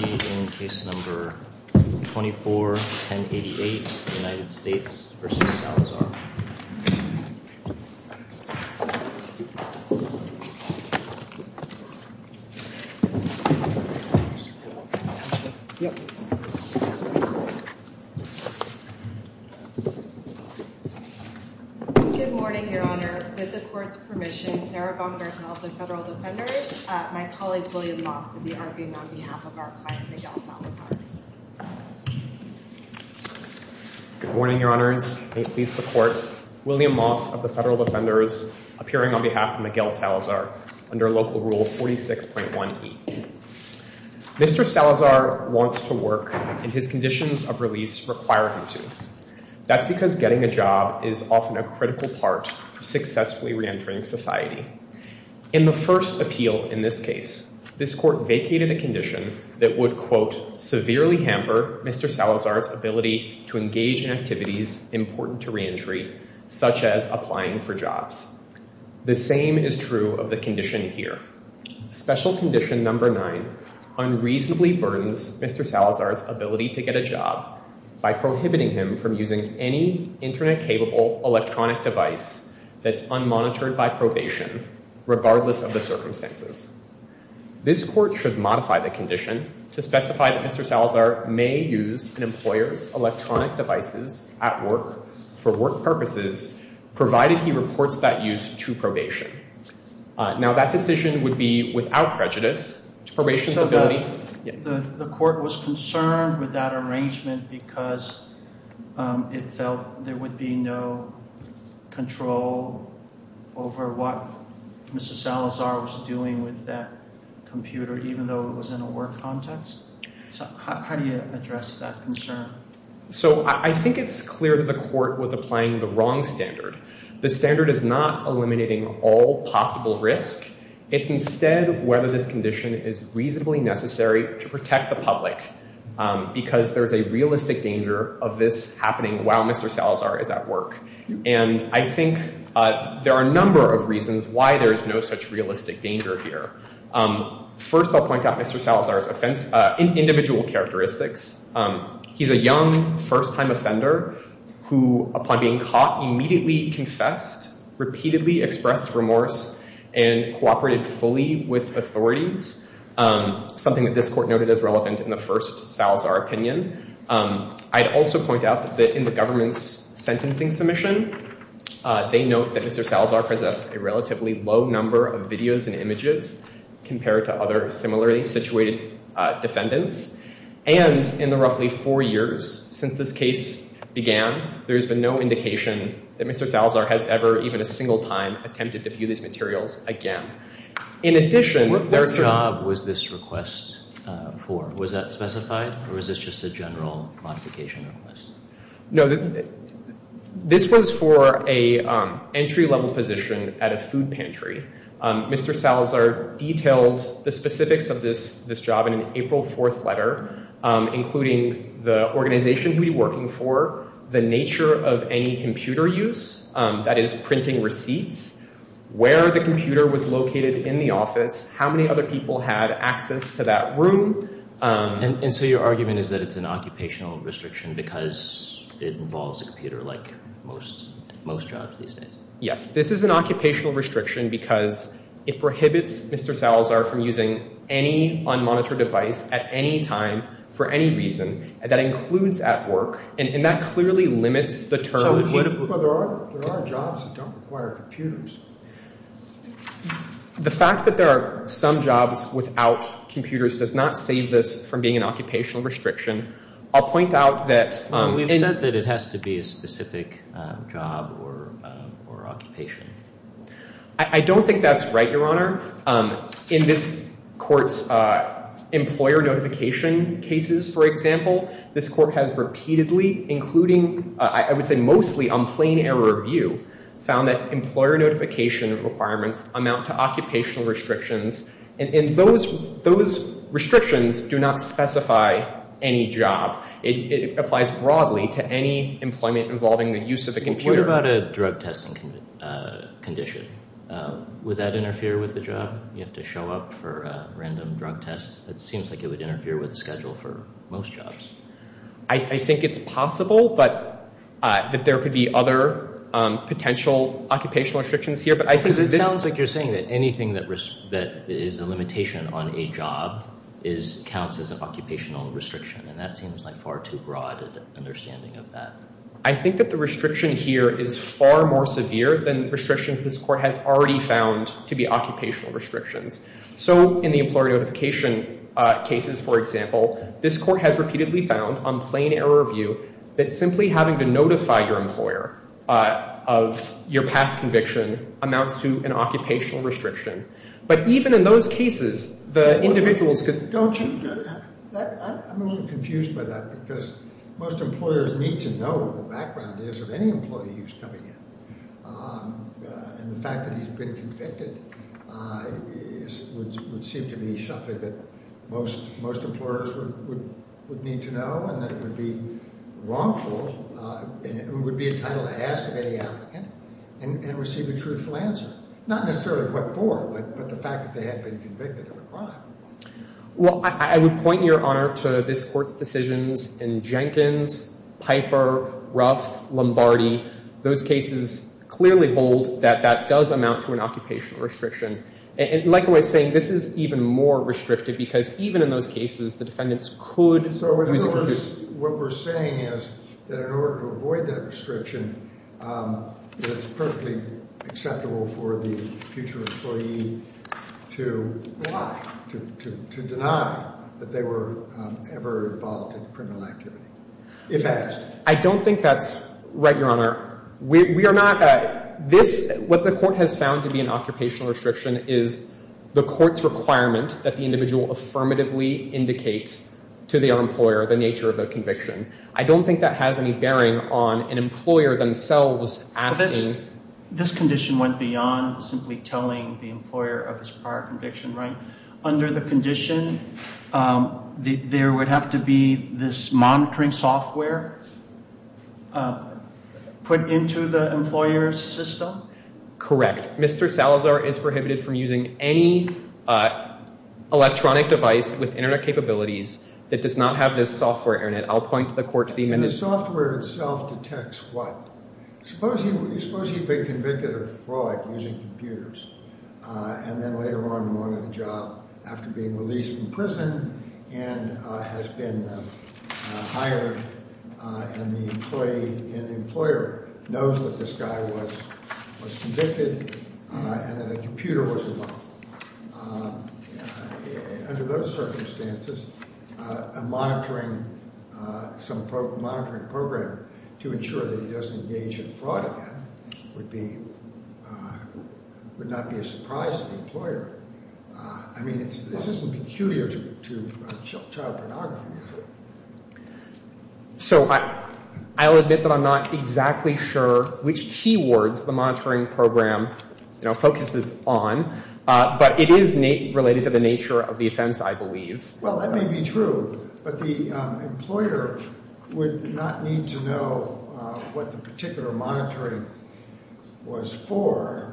Good morning, your honor. With the court's permission, Sarah Bonner is one of the federal defendants appearing on behalf of Miguel Salazar under Local Rule 46.1e. Mr. Salazar wants to work and his conditions of release require him to. That's because getting a job is often a critical part of successfully reentering society. In the first appeal in this case, this court vacated a condition that would, quote, severely hamper Mr. Salazar's ability to engage in activities important to reentry, such as applying for jobs. The same is true of the condition here. Special condition number nine unreasonably burdens Mr. Salazar's ability to get a job by prohibiting him from using any internet capable electronic device that's unmonitored by regardless of the circumstances. This court should modify the condition to specify that Mr. Salazar may use an employer's electronic devices at work for work purposes, provided he reports that use to probation. Now, that decision would be without prejudice to probation's ability. The court was concerned with that arrangement because it felt there would be no control over what Mr. Salazar was doing with that computer, even though it was in a work context. So how do you address that concern? So I think it's clear that the court was applying the wrong standard. The standard is not eliminating all possible risk. It's instead whether this condition is reasonably necessary to protect the public because there's a realistic danger of this happening while Mr. Salazar is at work. And I think there are a number of reasons why there is no such realistic danger here. First, I'll point out Mr. Salazar's individual characteristics. He's a young, first-time offender who, upon being caught, immediately confessed, repeatedly expressed remorse, and cooperated fully with authorities, something that this court noted as relevant in the first Salazar opinion. I'd also point out that in the government's sentencing submission, they note that Mr. Salazar possessed a relatively low number of videos and images compared to other similarly situated defendants. And in the roughly four years since this case began, there has been no indication that Mr. Salazar has ever, even a single time, attempted to view these materials again. What job was this request for? Was that specified, or was this just a general modification request? No, this was for an entry-level position at a food pantry. Mr. Salazar detailed the specifics of this job in an April 4th letter, including the organization he would be working for, the nature of any computer use, that is, printing receipts, where the computer was located in the office, how many other people had access to that room. And so your argument is that it's an occupational restriction because it involves a computer like most jobs these days? Yes, this is an occupational restriction because it prohibits Mr. Salazar from using any unmonitored device at any time for any reason. That includes at work, and that clearly limits the terms. But there are jobs that don't require computers. The fact that there are some jobs without computers does not save this from being an occupational restriction. I'll point out that... We've said that it has to be a specific job or occupation. I don't think that's right, Your Honor. In this Court's employer notification cases, for example, this Court has repeatedly, including, I would say mostly on plain error of view, found that employer notification requirements amount to occupational restrictions. And those restrictions do not specify any job. It applies broadly to any employment involving the use of a computer. What about a drug testing condition? Would that interfere with the job? You have to show up for a random drug test. That seems like it would interfere with the schedule for most jobs. I think it's possible, but that there could be other potential occupational restrictions here. Because it sounds like you're saying that anything that is a limitation on a job counts as an occupational restriction, and that seems like far too broad an understanding of that. I think that the restriction here is far more severe than restrictions this Court has already found to be occupational restrictions. So in the employer notification cases, for example, this Court has repeatedly found, on plain error of view, that simply having to notify your employer of your past conviction amounts to an occupational restriction. But even in those cases, the individuals could... Don't you... I'm a little confused by that, because most employers need to know what the background is of any employee who's coming in. And the fact that he's been convicted would seem to be something that most employers would need to know, and that it would be wrongful, and it would be entitled to ask of any applicant and receive a truthful answer. Not necessarily what for, but the fact that they had been convicted of a crime. Well, I would point your honor to this Court's decisions in Jenkins, Piper, Ruff, Lombardi. Those cases clearly hold that that does amount to an occupational restriction. And likewise, saying this is even more restrictive, because even in those cases, the defendants could... So what we're saying is that in order to avoid that restriction, it's perfectly acceptable for the future employee to deny that they were ever involved in criminal activity, if asked. I don't think that's right, your honor. We are not... This... What the Court has found to be an occupational restriction is the Court's requirement that the individual affirmatively indicate to their employer the nature of the conviction. I don't think that has any bearing on an employer themselves asking... This condition went beyond simply telling the employer of his prior conviction, right? Under the condition, there would have to be this monitoring software put into the employer's system? Correct. Mr. Salazar is prohibited from using any electronic device with internet capabilities that does not have this software in it. I'll just... The software itself detects what? Suppose he'd been convicted of fraud using computers, and then later on wanted a job after being released from prison and has been hired, and the employee and the employer knows that this guy was convicted and that a computer was involved. Under those circumstances, a monitoring program to ensure that he doesn't engage in fraud again would be... Would not be a surprise to the employer. I mean, this isn't peculiar to child pornography. So I'll admit that I'm not exactly sure which keywords the monitoring program focuses on, but it is related to the nature of the offense, I believe. Well, that may be true, but the employer would not need to know what the particular monitoring was for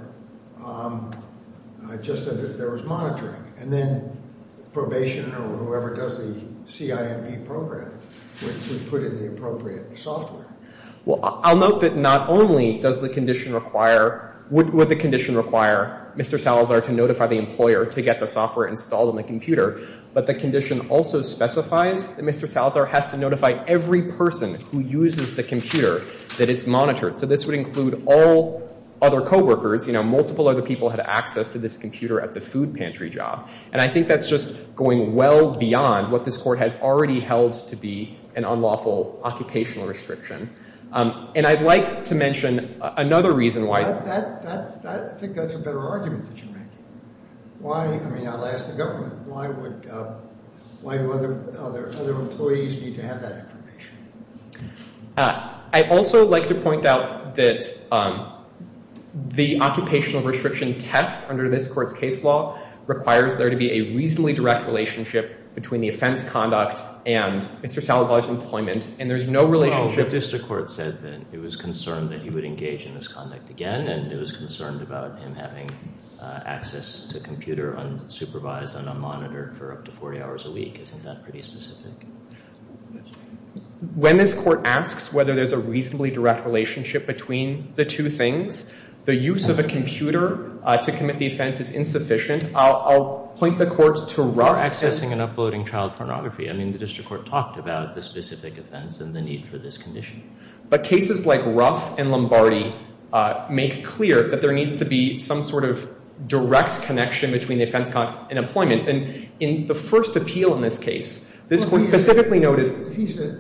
just that there was monitoring. And then probation or whoever does the CIMP program would put in the appropriate software. Well, I'll note that not only does the condition require... Would the condition require Mr. Salazar to notify the employer to get the software installed on the computer, but the condition also specifies that Mr. Salazar has to notify every person who uses the computer that it's monitored. So this would include all other co-workers. Multiple other people had access to this computer at the food pantry job. And I think that's just going well beyond what this court has already held to be an unlawful occupational restriction. And I'd like to mention another reason why... I think that's a better argument that you're making. I mean, I'll ask the government, why do other employees need to have that information? I'd also like to point out that the occupational restriction test under this court's case law requires there to be a reasonably direct relationship between the offense conduct and Mr. Salazar's employment. And there's no relationship... Well, the district court said that it was concerned that he would engage in this conduct again, and it was concerned about him having access to a computer unsupervised and unmonitored for up to 40 hours a week. Isn't that pretty specific? When this court asks whether there's a reasonably direct relationship between the two things, the use of a computer to commit the offense is insufficient. I'll point the court to Ruff... For accessing and uploading child pornography. I mean, the district court talked about the specific offense and the need for this condition. But cases like Ruff and Lombardi make clear that there needs to be some sort of direct connection between the offense conduct and employment. And in the first appeal in this case, this court specifically noted... He's a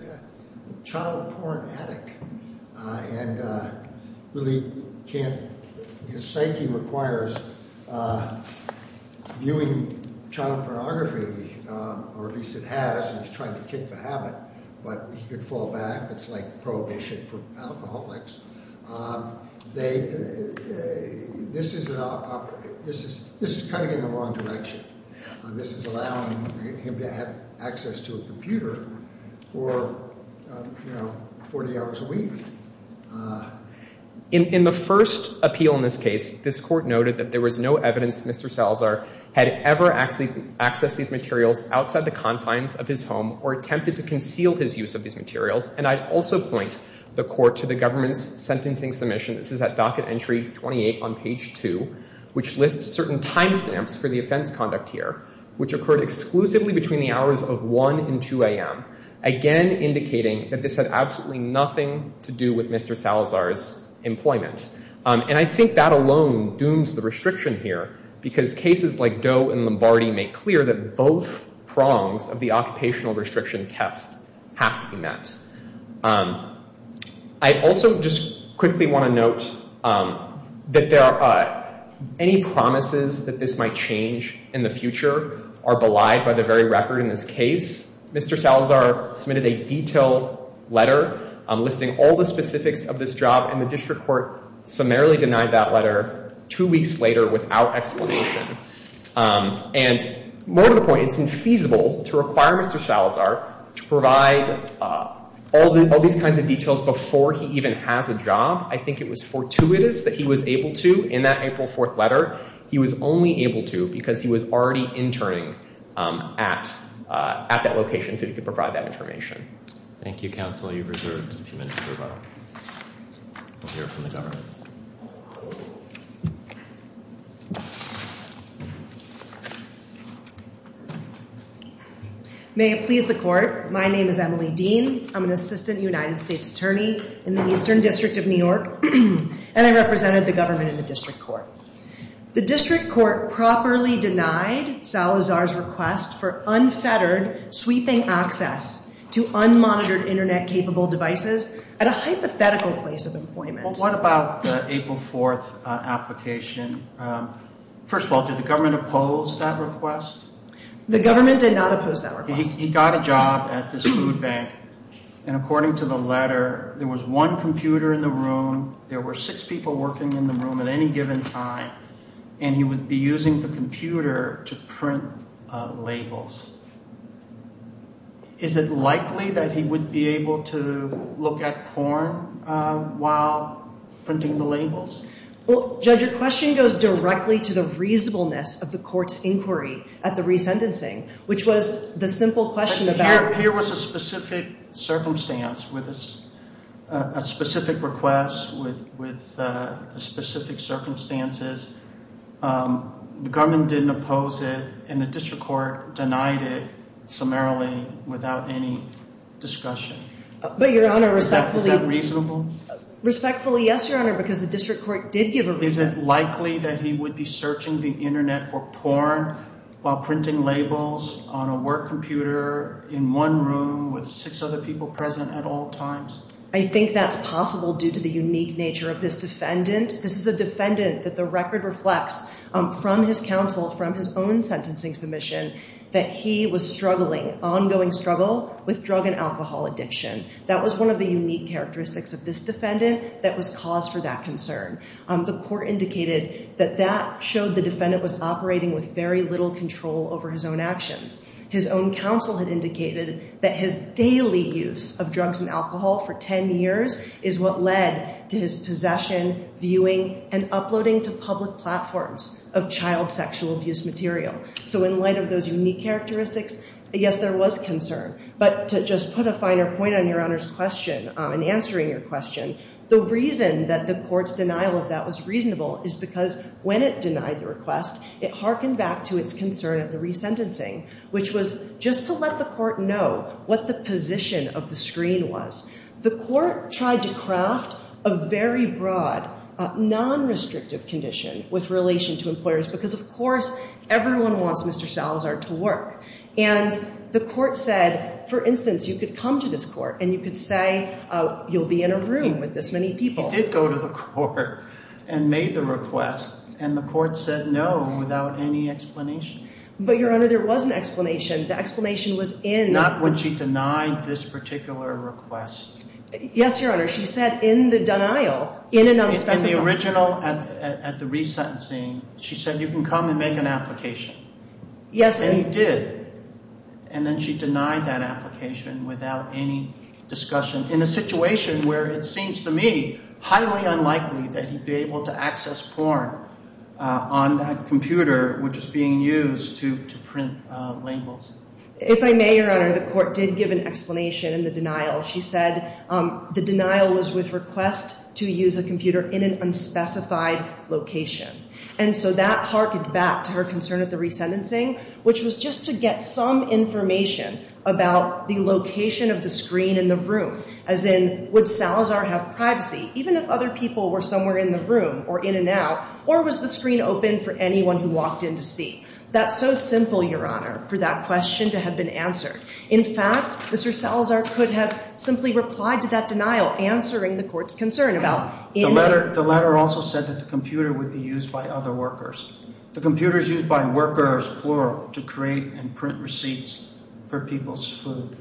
child porn addict, and really can't... His psyche requires viewing child pornography, or at least it has, and he's trying to kick the habit, but he could fall back. It's like prohibition for alcoholics. This is kind of in the wrong direction. This is allowing him to have access to a computer for 40 hours a week. In the first appeal in this case, this court noted that there was no evidence Mr. Salazar had ever accessed these materials outside the confines of his home or attempted to conceal his use of these materials. And I'd also point the court to the government's sentencing submission. This is at docket entry 28 on page 2, which lists certain timestamps for the offense conduct here, which occurred exclusively between the hours of 1 and 2 a.m., again, indicating that this had absolutely nothing to do with Mr. Salazar's employment. And I think that alone dooms the restriction here, because cases like Doe and Lombardi make clear that both prongs of the occupational restriction test have to be met. I also just quickly want to note that there are any promises that this might change in the future are belied by the very record in this case. Mr. Salazar submitted a detailed letter listing all the specifics of this job, and the district court summarily denied that letter two weeks later without explanation. And more to the point, it's infeasible to require Mr. Salazar to provide all these kinds of details before he even has a job. I think it was fortuitous that he was able to in that April 4th letter. He was only able to because he was already interning at that location so he could provide that information. Thank you, counsel. You've reserved a few minutes to hear from the government. May it please the court. My name is Emily Dean. I'm an assistant United States attorney in the Eastern District of New York, and I represented the government in the district court. The district court properly denied Salazar's request for unfettered sweeping access to unmonitored internet-capable devices at a hypothetical place of employment. What about the April 4th application? First of all, did the government oppose that request? The government did not oppose that request. He got a job at this food bank, and according to the letter, there was one computer in the room, there were six people working in the room at any given time, and he would be using the computer to print labels. Is it likely that he would be able to look at porn while printing the labels? Well, Judge, your question goes directly to the reasonableness of the court's inquiry at the resentencing, which was the simple question about... Here was a specific circumstance with a specific request with the specific circumstances. The government didn't oppose it, and the district court denied it summarily without any discussion. But your honor, respectfully... Is that reasonable? Respectfully, yes, your honor, because the district court did give a reason. Is it likely that he would be searching the internet for porn while printing labels on a work computer in one room with six other people present at all times? I think that's possible due to the unique nature of this defendant. This is a defendant that the record reflects from his counsel, from his own sentencing submission, that he was struggling, ongoing struggle, with drug and alcohol addiction. That was one of the unique characteristics of this defendant that was cause for that concern. The court indicated that that showed the defendant was operating with very little control over his own actions. His own counsel had indicated that his daily use of drugs and alcohol for 10 years is what led to his possession, viewing, and uploading to public platforms of child sexual abuse material. So in light of those unique characteristics, yes, there was concern. But to just put a finer point on your honor's question and answering your question, the reason that the court's denial of that was reasonable is because when it denied the request, it harkened back to its concern at the resentencing, which was just to let the court know what the position of the screen was. The court tried to craft a very broad, non-restrictive condition with relation to employers because, of course, everyone wants Mr. Salazar to work. And the court said, for instance, you could come to this court and you could say you'll be in a room with this many people. He did go to the court and made the request and the court said no without any explanation. But your honor, there was an explanation. The explanation was in... Not when she denied this particular request. Yes, your honor. She said in the denial, in an unspecified... In the original at the resentencing, she said you can come and make an application. Yes. And he did. And then she denied that application without any discussion in a situation where it seems to me highly unlikely that he'd be able to access porn on that computer which is being used to print labels. If I may, your honor, the court did give an explanation in the denial. She said the denial was with request to use a computer in an unspecified location. And so that harkened back to her concern at the resentencing, which was just to get some information about the location of the screen in the room. As in, would Salazar have privacy even if other people were somewhere in the room or in and out? Or was the screen open for anyone who walked in to see? That's so simple, your honor, for that question to have been answered. In fact, Mr. Salazar could have simply replied to that denial answering the court's concern about... The letter also said that the computer would be used by other workers. The computer is used by workers, plural, to create and print receipts for people's food.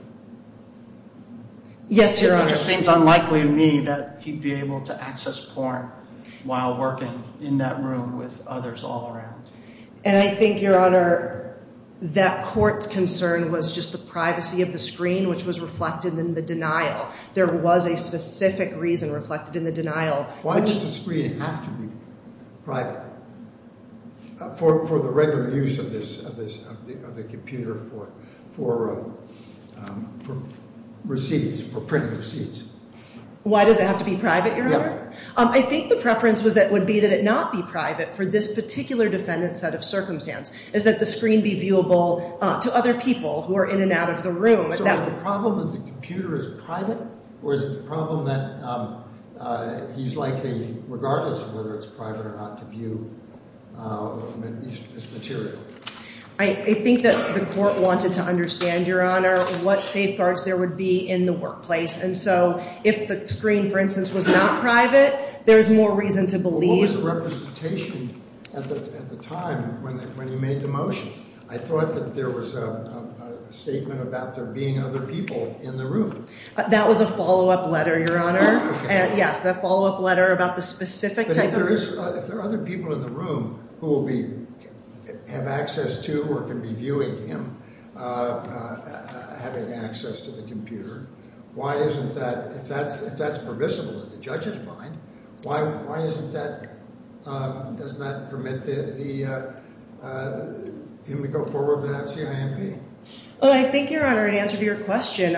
Yes, your honor. It seems unlikely to me that he'd be able to access porn while working in that room with others all around. And I think, your honor, that court's concern was just the privacy of the computer. Why does the screen have to be private for the regular use of the computer for receipts, for printing receipts? Why does it have to be private, your honor? I think the preference would be that it not be private for this particular defendant's set of circumstance, is that the screen be viewable to other people who are in and out of the room. So is the problem that the computer is private, or is it the problem that he's likely, regardless of whether it's private or not, to view this material? I think that the court wanted to understand, your honor, what safeguards there would be in the workplace. And so if the screen, for instance, was not private, there's more reason to believe... What was the representation at the time when you made the motion? I thought that there was a statement about there being other people in the room. That was a follow-up letter, your honor. Yes, a follow-up letter about the specific type of... But if there are other people in the room who will have access to or can be viewing him having access to the computer, why isn't that... If that's permissible at the judge's mind, why isn't that... Doesn't that permit him to go forward without CIMP? Well, I think, your honor, in answer to your question,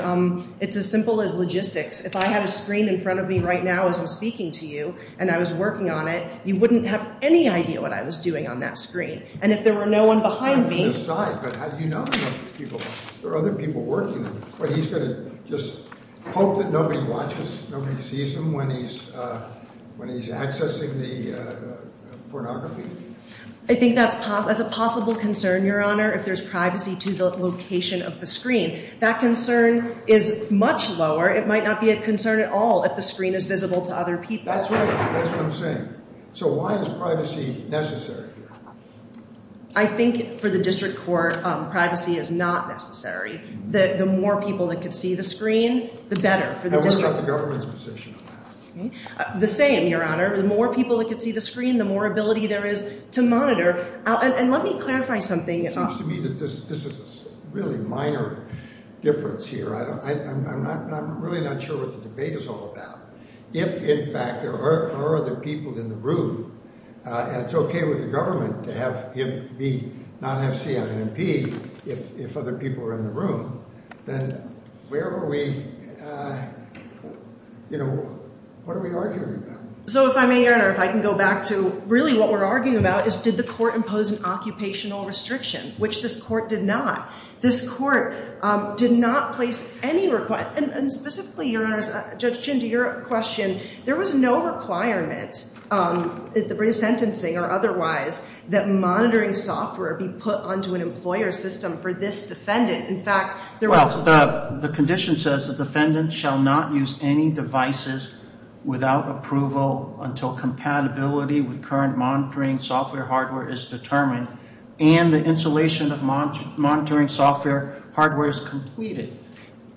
it's as simple as logistics. If I had a screen in front of me right now as I'm speaking to you and I was working on it, you wouldn't have any idea what I was doing on that screen. And if there were no one behind me... I'm on his side, but how do you know if there are other people working? He's going to just hope that nobody watches, nobody sees him when he's accessing the pornography? I think that's a possible concern, your honor, if there's privacy to the location of the screen. That concern is much lower. It might not be a concern at all if the screen is visible to other people. That's right. That's what I'm saying. So why is privacy necessary? I think for the district court, privacy is not necessary. The more people that could see the screen, the better for the district. And what about the government's position on that? The same, your honor. The more people that could see the screen, the more ability there is to monitor. And let me clarify something. It seems to me that this is a really minor difference here. I'm really not sure what the debate is all about. If, in fact, there are other people in the room and it's okay with the INP, if other people are in the room, then where are we, you know, what are we arguing about? So if I may, your honor, if I can go back to really what we're arguing about is did the court impose an occupational restriction, which this court did not. This court did not place any request, and specifically, your honors, Judge Chin, to your question, there was no requirement at the British Sentencing or otherwise that monitoring software be put onto an employer system for this defendant. In fact, there was... Well, the condition says the defendant shall not use any devices without approval until compatibility with current monitoring software hardware is determined and the installation of monitoring software hardware is completed.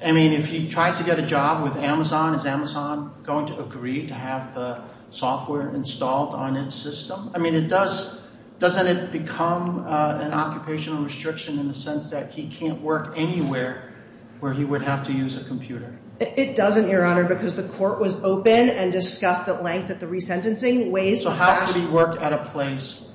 I mean, if he tries to get a job with Amazon, is Amazon going to agree to have the software installed on its system? I mean, it does, doesn't it become an occupational restriction in the sense that he can't work anywhere where he would have to use a computer? It doesn't, your honor, because the court was open and discussed at length that the resentencing ways... So how could he work at a place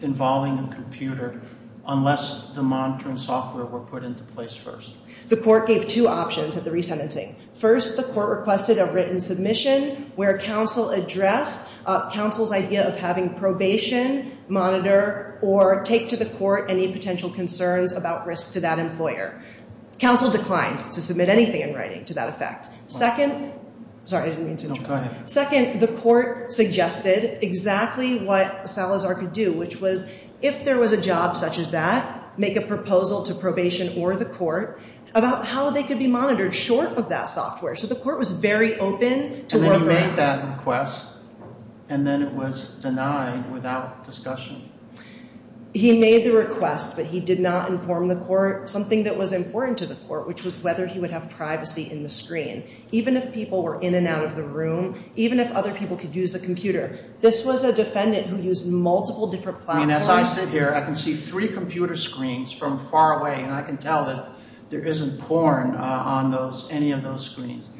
involving a computer unless the monitoring software were put into place first? The court gave two options at the resentencing. First, the court requested a written submission where counsel address counsel's idea of having probation monitor or take to the court any potential concerns about risk to that employer. Counsel declined to submit anything in writing to that effect. Second... Sorry, I didn't mean to interrupt. No, go ahead. Second, the court suggested exactly what Salazar could do, which was if there was a job such as that, make a proposal to probation or the court about how they could be monitored short of that software. So the court was very open to... And then he made that request and then it was denied without discussion? He made the request, but he did not inform the court something that was important to the court, which was whether he would have privacy in the screen. Even if people were in and out of the room, even if other people could use the computer. This was a defendant who used multiple different platforms. And as I sit here, I can see three computer screens from far away and I can tell that there isn't porn on any of those screens.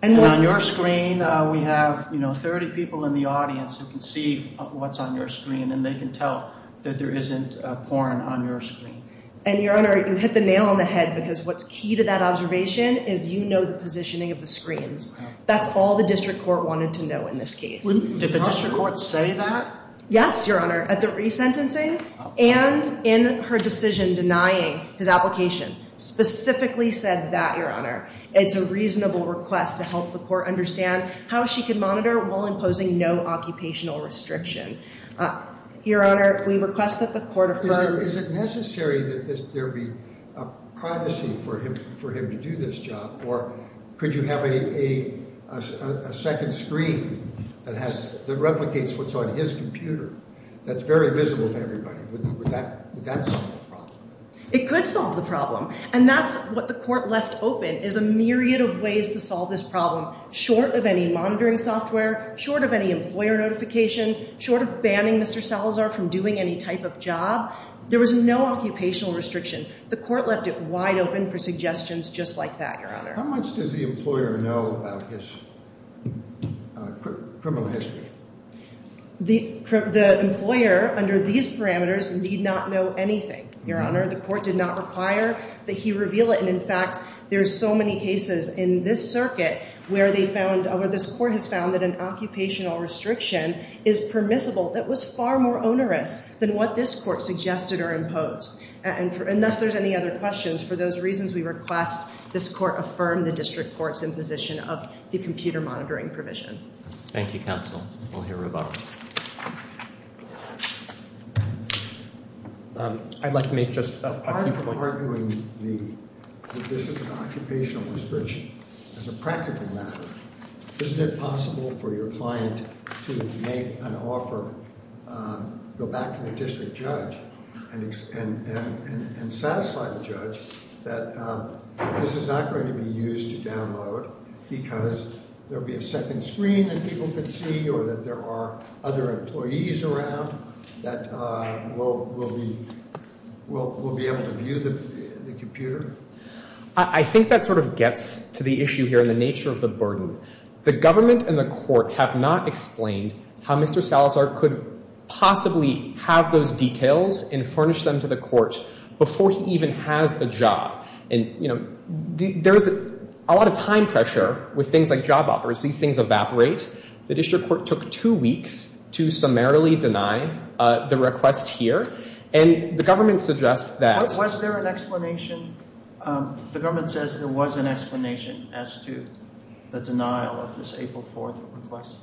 And on your screen, we have 30 people in the audience who can see what's on your screen and they can tell that there isn't porn on your screen. And Your Honor, you hit the nail on the head because what's key to that observation is you know the positioning of the screens. That's all the district court wanted to know in this case. Did the district court say that? Yes, Your Honor, at the resentencing and in her decision denying his application, specifically said that, Your Honor, it's a reasonable request to help the court understand how she could monitor while imposing no occupational restriction. Your Honor, we request that the court... Is it necessary that there be a privacy for him to do this job or could you have a second screen that replicates what's on his computer that's very visible to everybody? Would that solve the problem? It could solve the problem. And that's what the court left open is a myriad of ways to solve this problem, short of any monitoring software, short of any employer notification, short of banning Mr. Salazar from doing any type of job. There was no occupational restriction. The court left it wide open for suggestions just like that, Your Honor. How much does the employer know about his criminal history? The employer under these parameters need not know anything, Your Honor. The court did not require that he reveal it. And in fact, there's so many cases in this circuit where this court has found that an occupational restriction is permissible. It was far more than what this court suggested or imposed. And thus, there's any other questions. For those reasons, we request this court affirm the district court's imposition of the computer monitoring provision. Thank you, counsel. We'll hear about it. I'd like to make just a few points. Apart from arguing that this is an occupational restriction, as a practical matter, isn't it possible for your client to make an offer, go back to the district judge and satisfy the judge that this is not going to be used to download because there'll be a second screen that people can see or that there are other employees around that will be able to view the The government and the court have not explained how Mr. Salazar could possibly have those details and furnish them to the court before he even has a job. And, you know, there's a lot of time pressure with things like job offers. These things evaporate. The district court took two weeks to summarily deny the request here. And the government suggests that... Was there an explanation? The government says there was an explanation as to the denial of this April 4th request.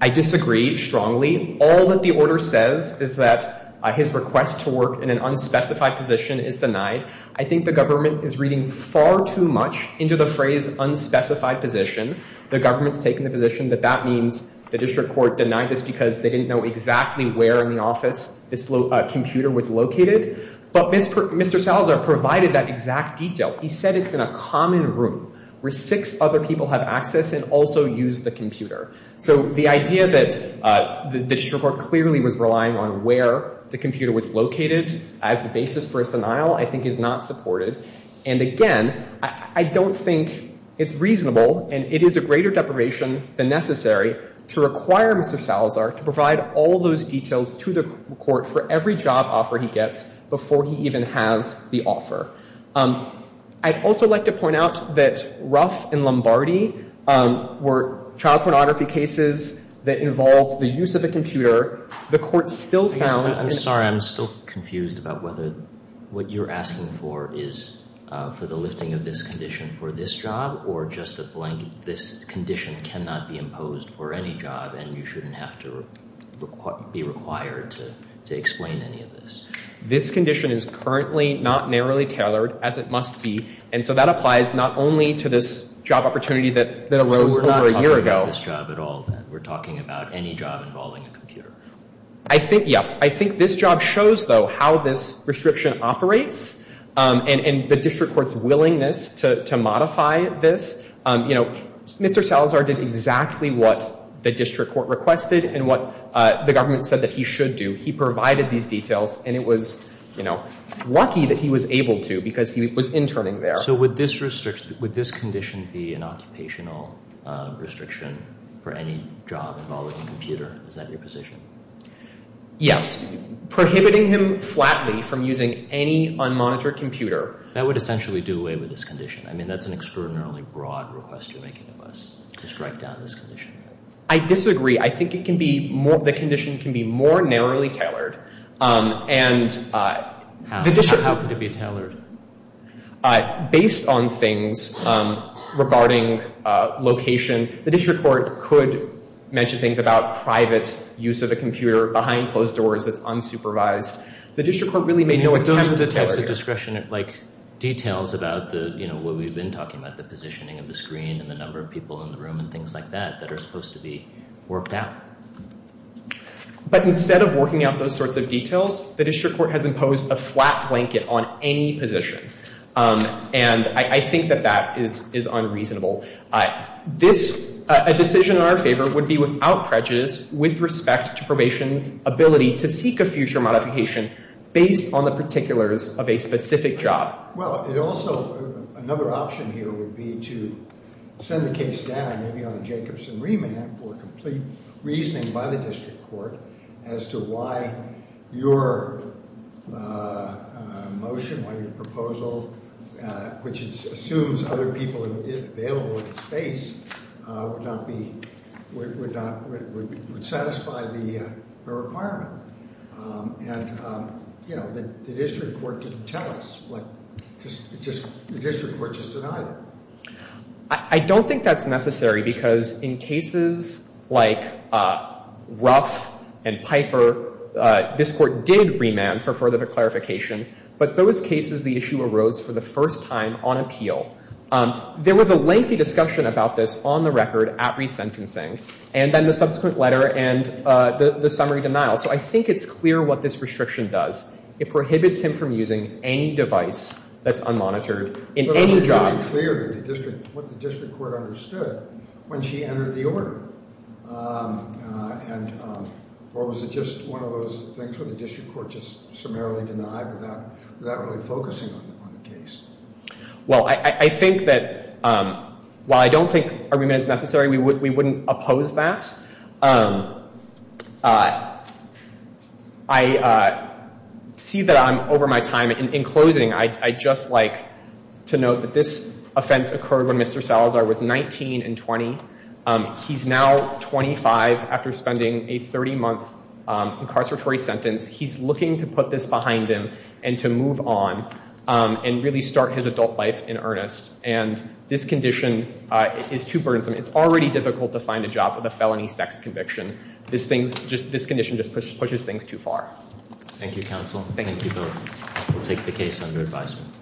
I disagree strongly. All that the order says is that his request to work in an unspecified position is denied. I think the government is reading far too much into the phrase unspecified position. The government's taking the position that that means the district court denied this because they didn't know exactly where in the office this computer was located. But Mr. Salazar provided that exact detail. He said it's in a common room where six other people have access and also use the computer. So the idea that the district court clearly was relying on where the computer was located as the basis for his denial, I think, is not supported. And again, I don't think it's reasonable, and it is a greater deprivation than necessary, to require Mr. Salazar to provide all those details to the court for every job offer he gets before he even has the offer. I'd also like to point out that Ruff and Lombardi were child pornography cases that involved the use of a computer. The court still found... I'm sorry. I'm still confused about whether what you're asking for is for the lifting of this for this job or just a blank. This condition cannot be imposed for any job, and you shouldn't have to be required to explain any of this. This condition is currently not narrowly tailored as it must be, and so that applies not only to this job opportunity that arose over a year ago. So we're not talking about this job at all, then? We're talking about any job involving a computer? I think, yes. I think this job shows, though, how this restriction operates and the district willingness to modify this. Mr. Salazar did exactly what the district court requested and what the government said that he should do. He provided these details, and it was lucky that he was able to because he was interning there. So would this condition be an occupational restriction for any job involving a computer? Is that your position? Yes. Prohibiting him flatly from using any unmonitored computer... That would essentially do away with this condition. I mean, that's an extraordinarily broad request you're making of us to strike down this condition. I disagree. I think the condition can be more narrowly tailored. And how could it be tailored? Based on things regarding location, the district court could mention things about private use of a computer behind closed doors that's unsupervised. The district court really made no attempt to like, details about the, you know, what we've been talking about, the positioning of the screen and the number of people in the room and things like that that are supposed to be worked out. But instead of working out those sorts of details, the district court has imposed a flat blanket on any position. And I think that that is unreasonable. A decision in our favor would be without prejudice with respect to probation's ability to seek a future modification based on the particulars of a specific job. Well, it also, another option here would be to send the case down, maybe on a Jacobson remand for complete reasoning by the district court as to why your motion, why your proposal, which assumes other people are available in the space, would not be, would not, would satisfy the requirement. And, you know, the district court didn't tell us. The district court just denied it. I don't think that's necessary because in cases like Ruff and Piper, this court did remand for further clarification. But those cases, the issue arose for the first time on appeal. There was a lengthy discussion about this on the record at resentencing. And then the subsequent letter and the summary denial. So I think it's clear what this restriction does. It prohibits him from using any device that's unmonitored in any job. But isn't it clear what the district court understood when she entered the order? And, or was it just one of those things where the district court just summarily denied without really focusing on the case? Well, I think that while I don't think argument is necessary, we wouldn't oppose that. I see that I'm over my time. And in closing, I'd just like to note that this offense occurred when Mr. Salazar was 19 and 20. He's now 25 after spending a 30-month incarceratory sentence. He's looking to put this behind him and to move on and really start his adult life in earnest. And this condition is too burdensome. It's already difficult to find a job with a felony sex conviction. This condition just pushes things too far. Thank you, counsel. Thank you both. We'll take the case under advisement.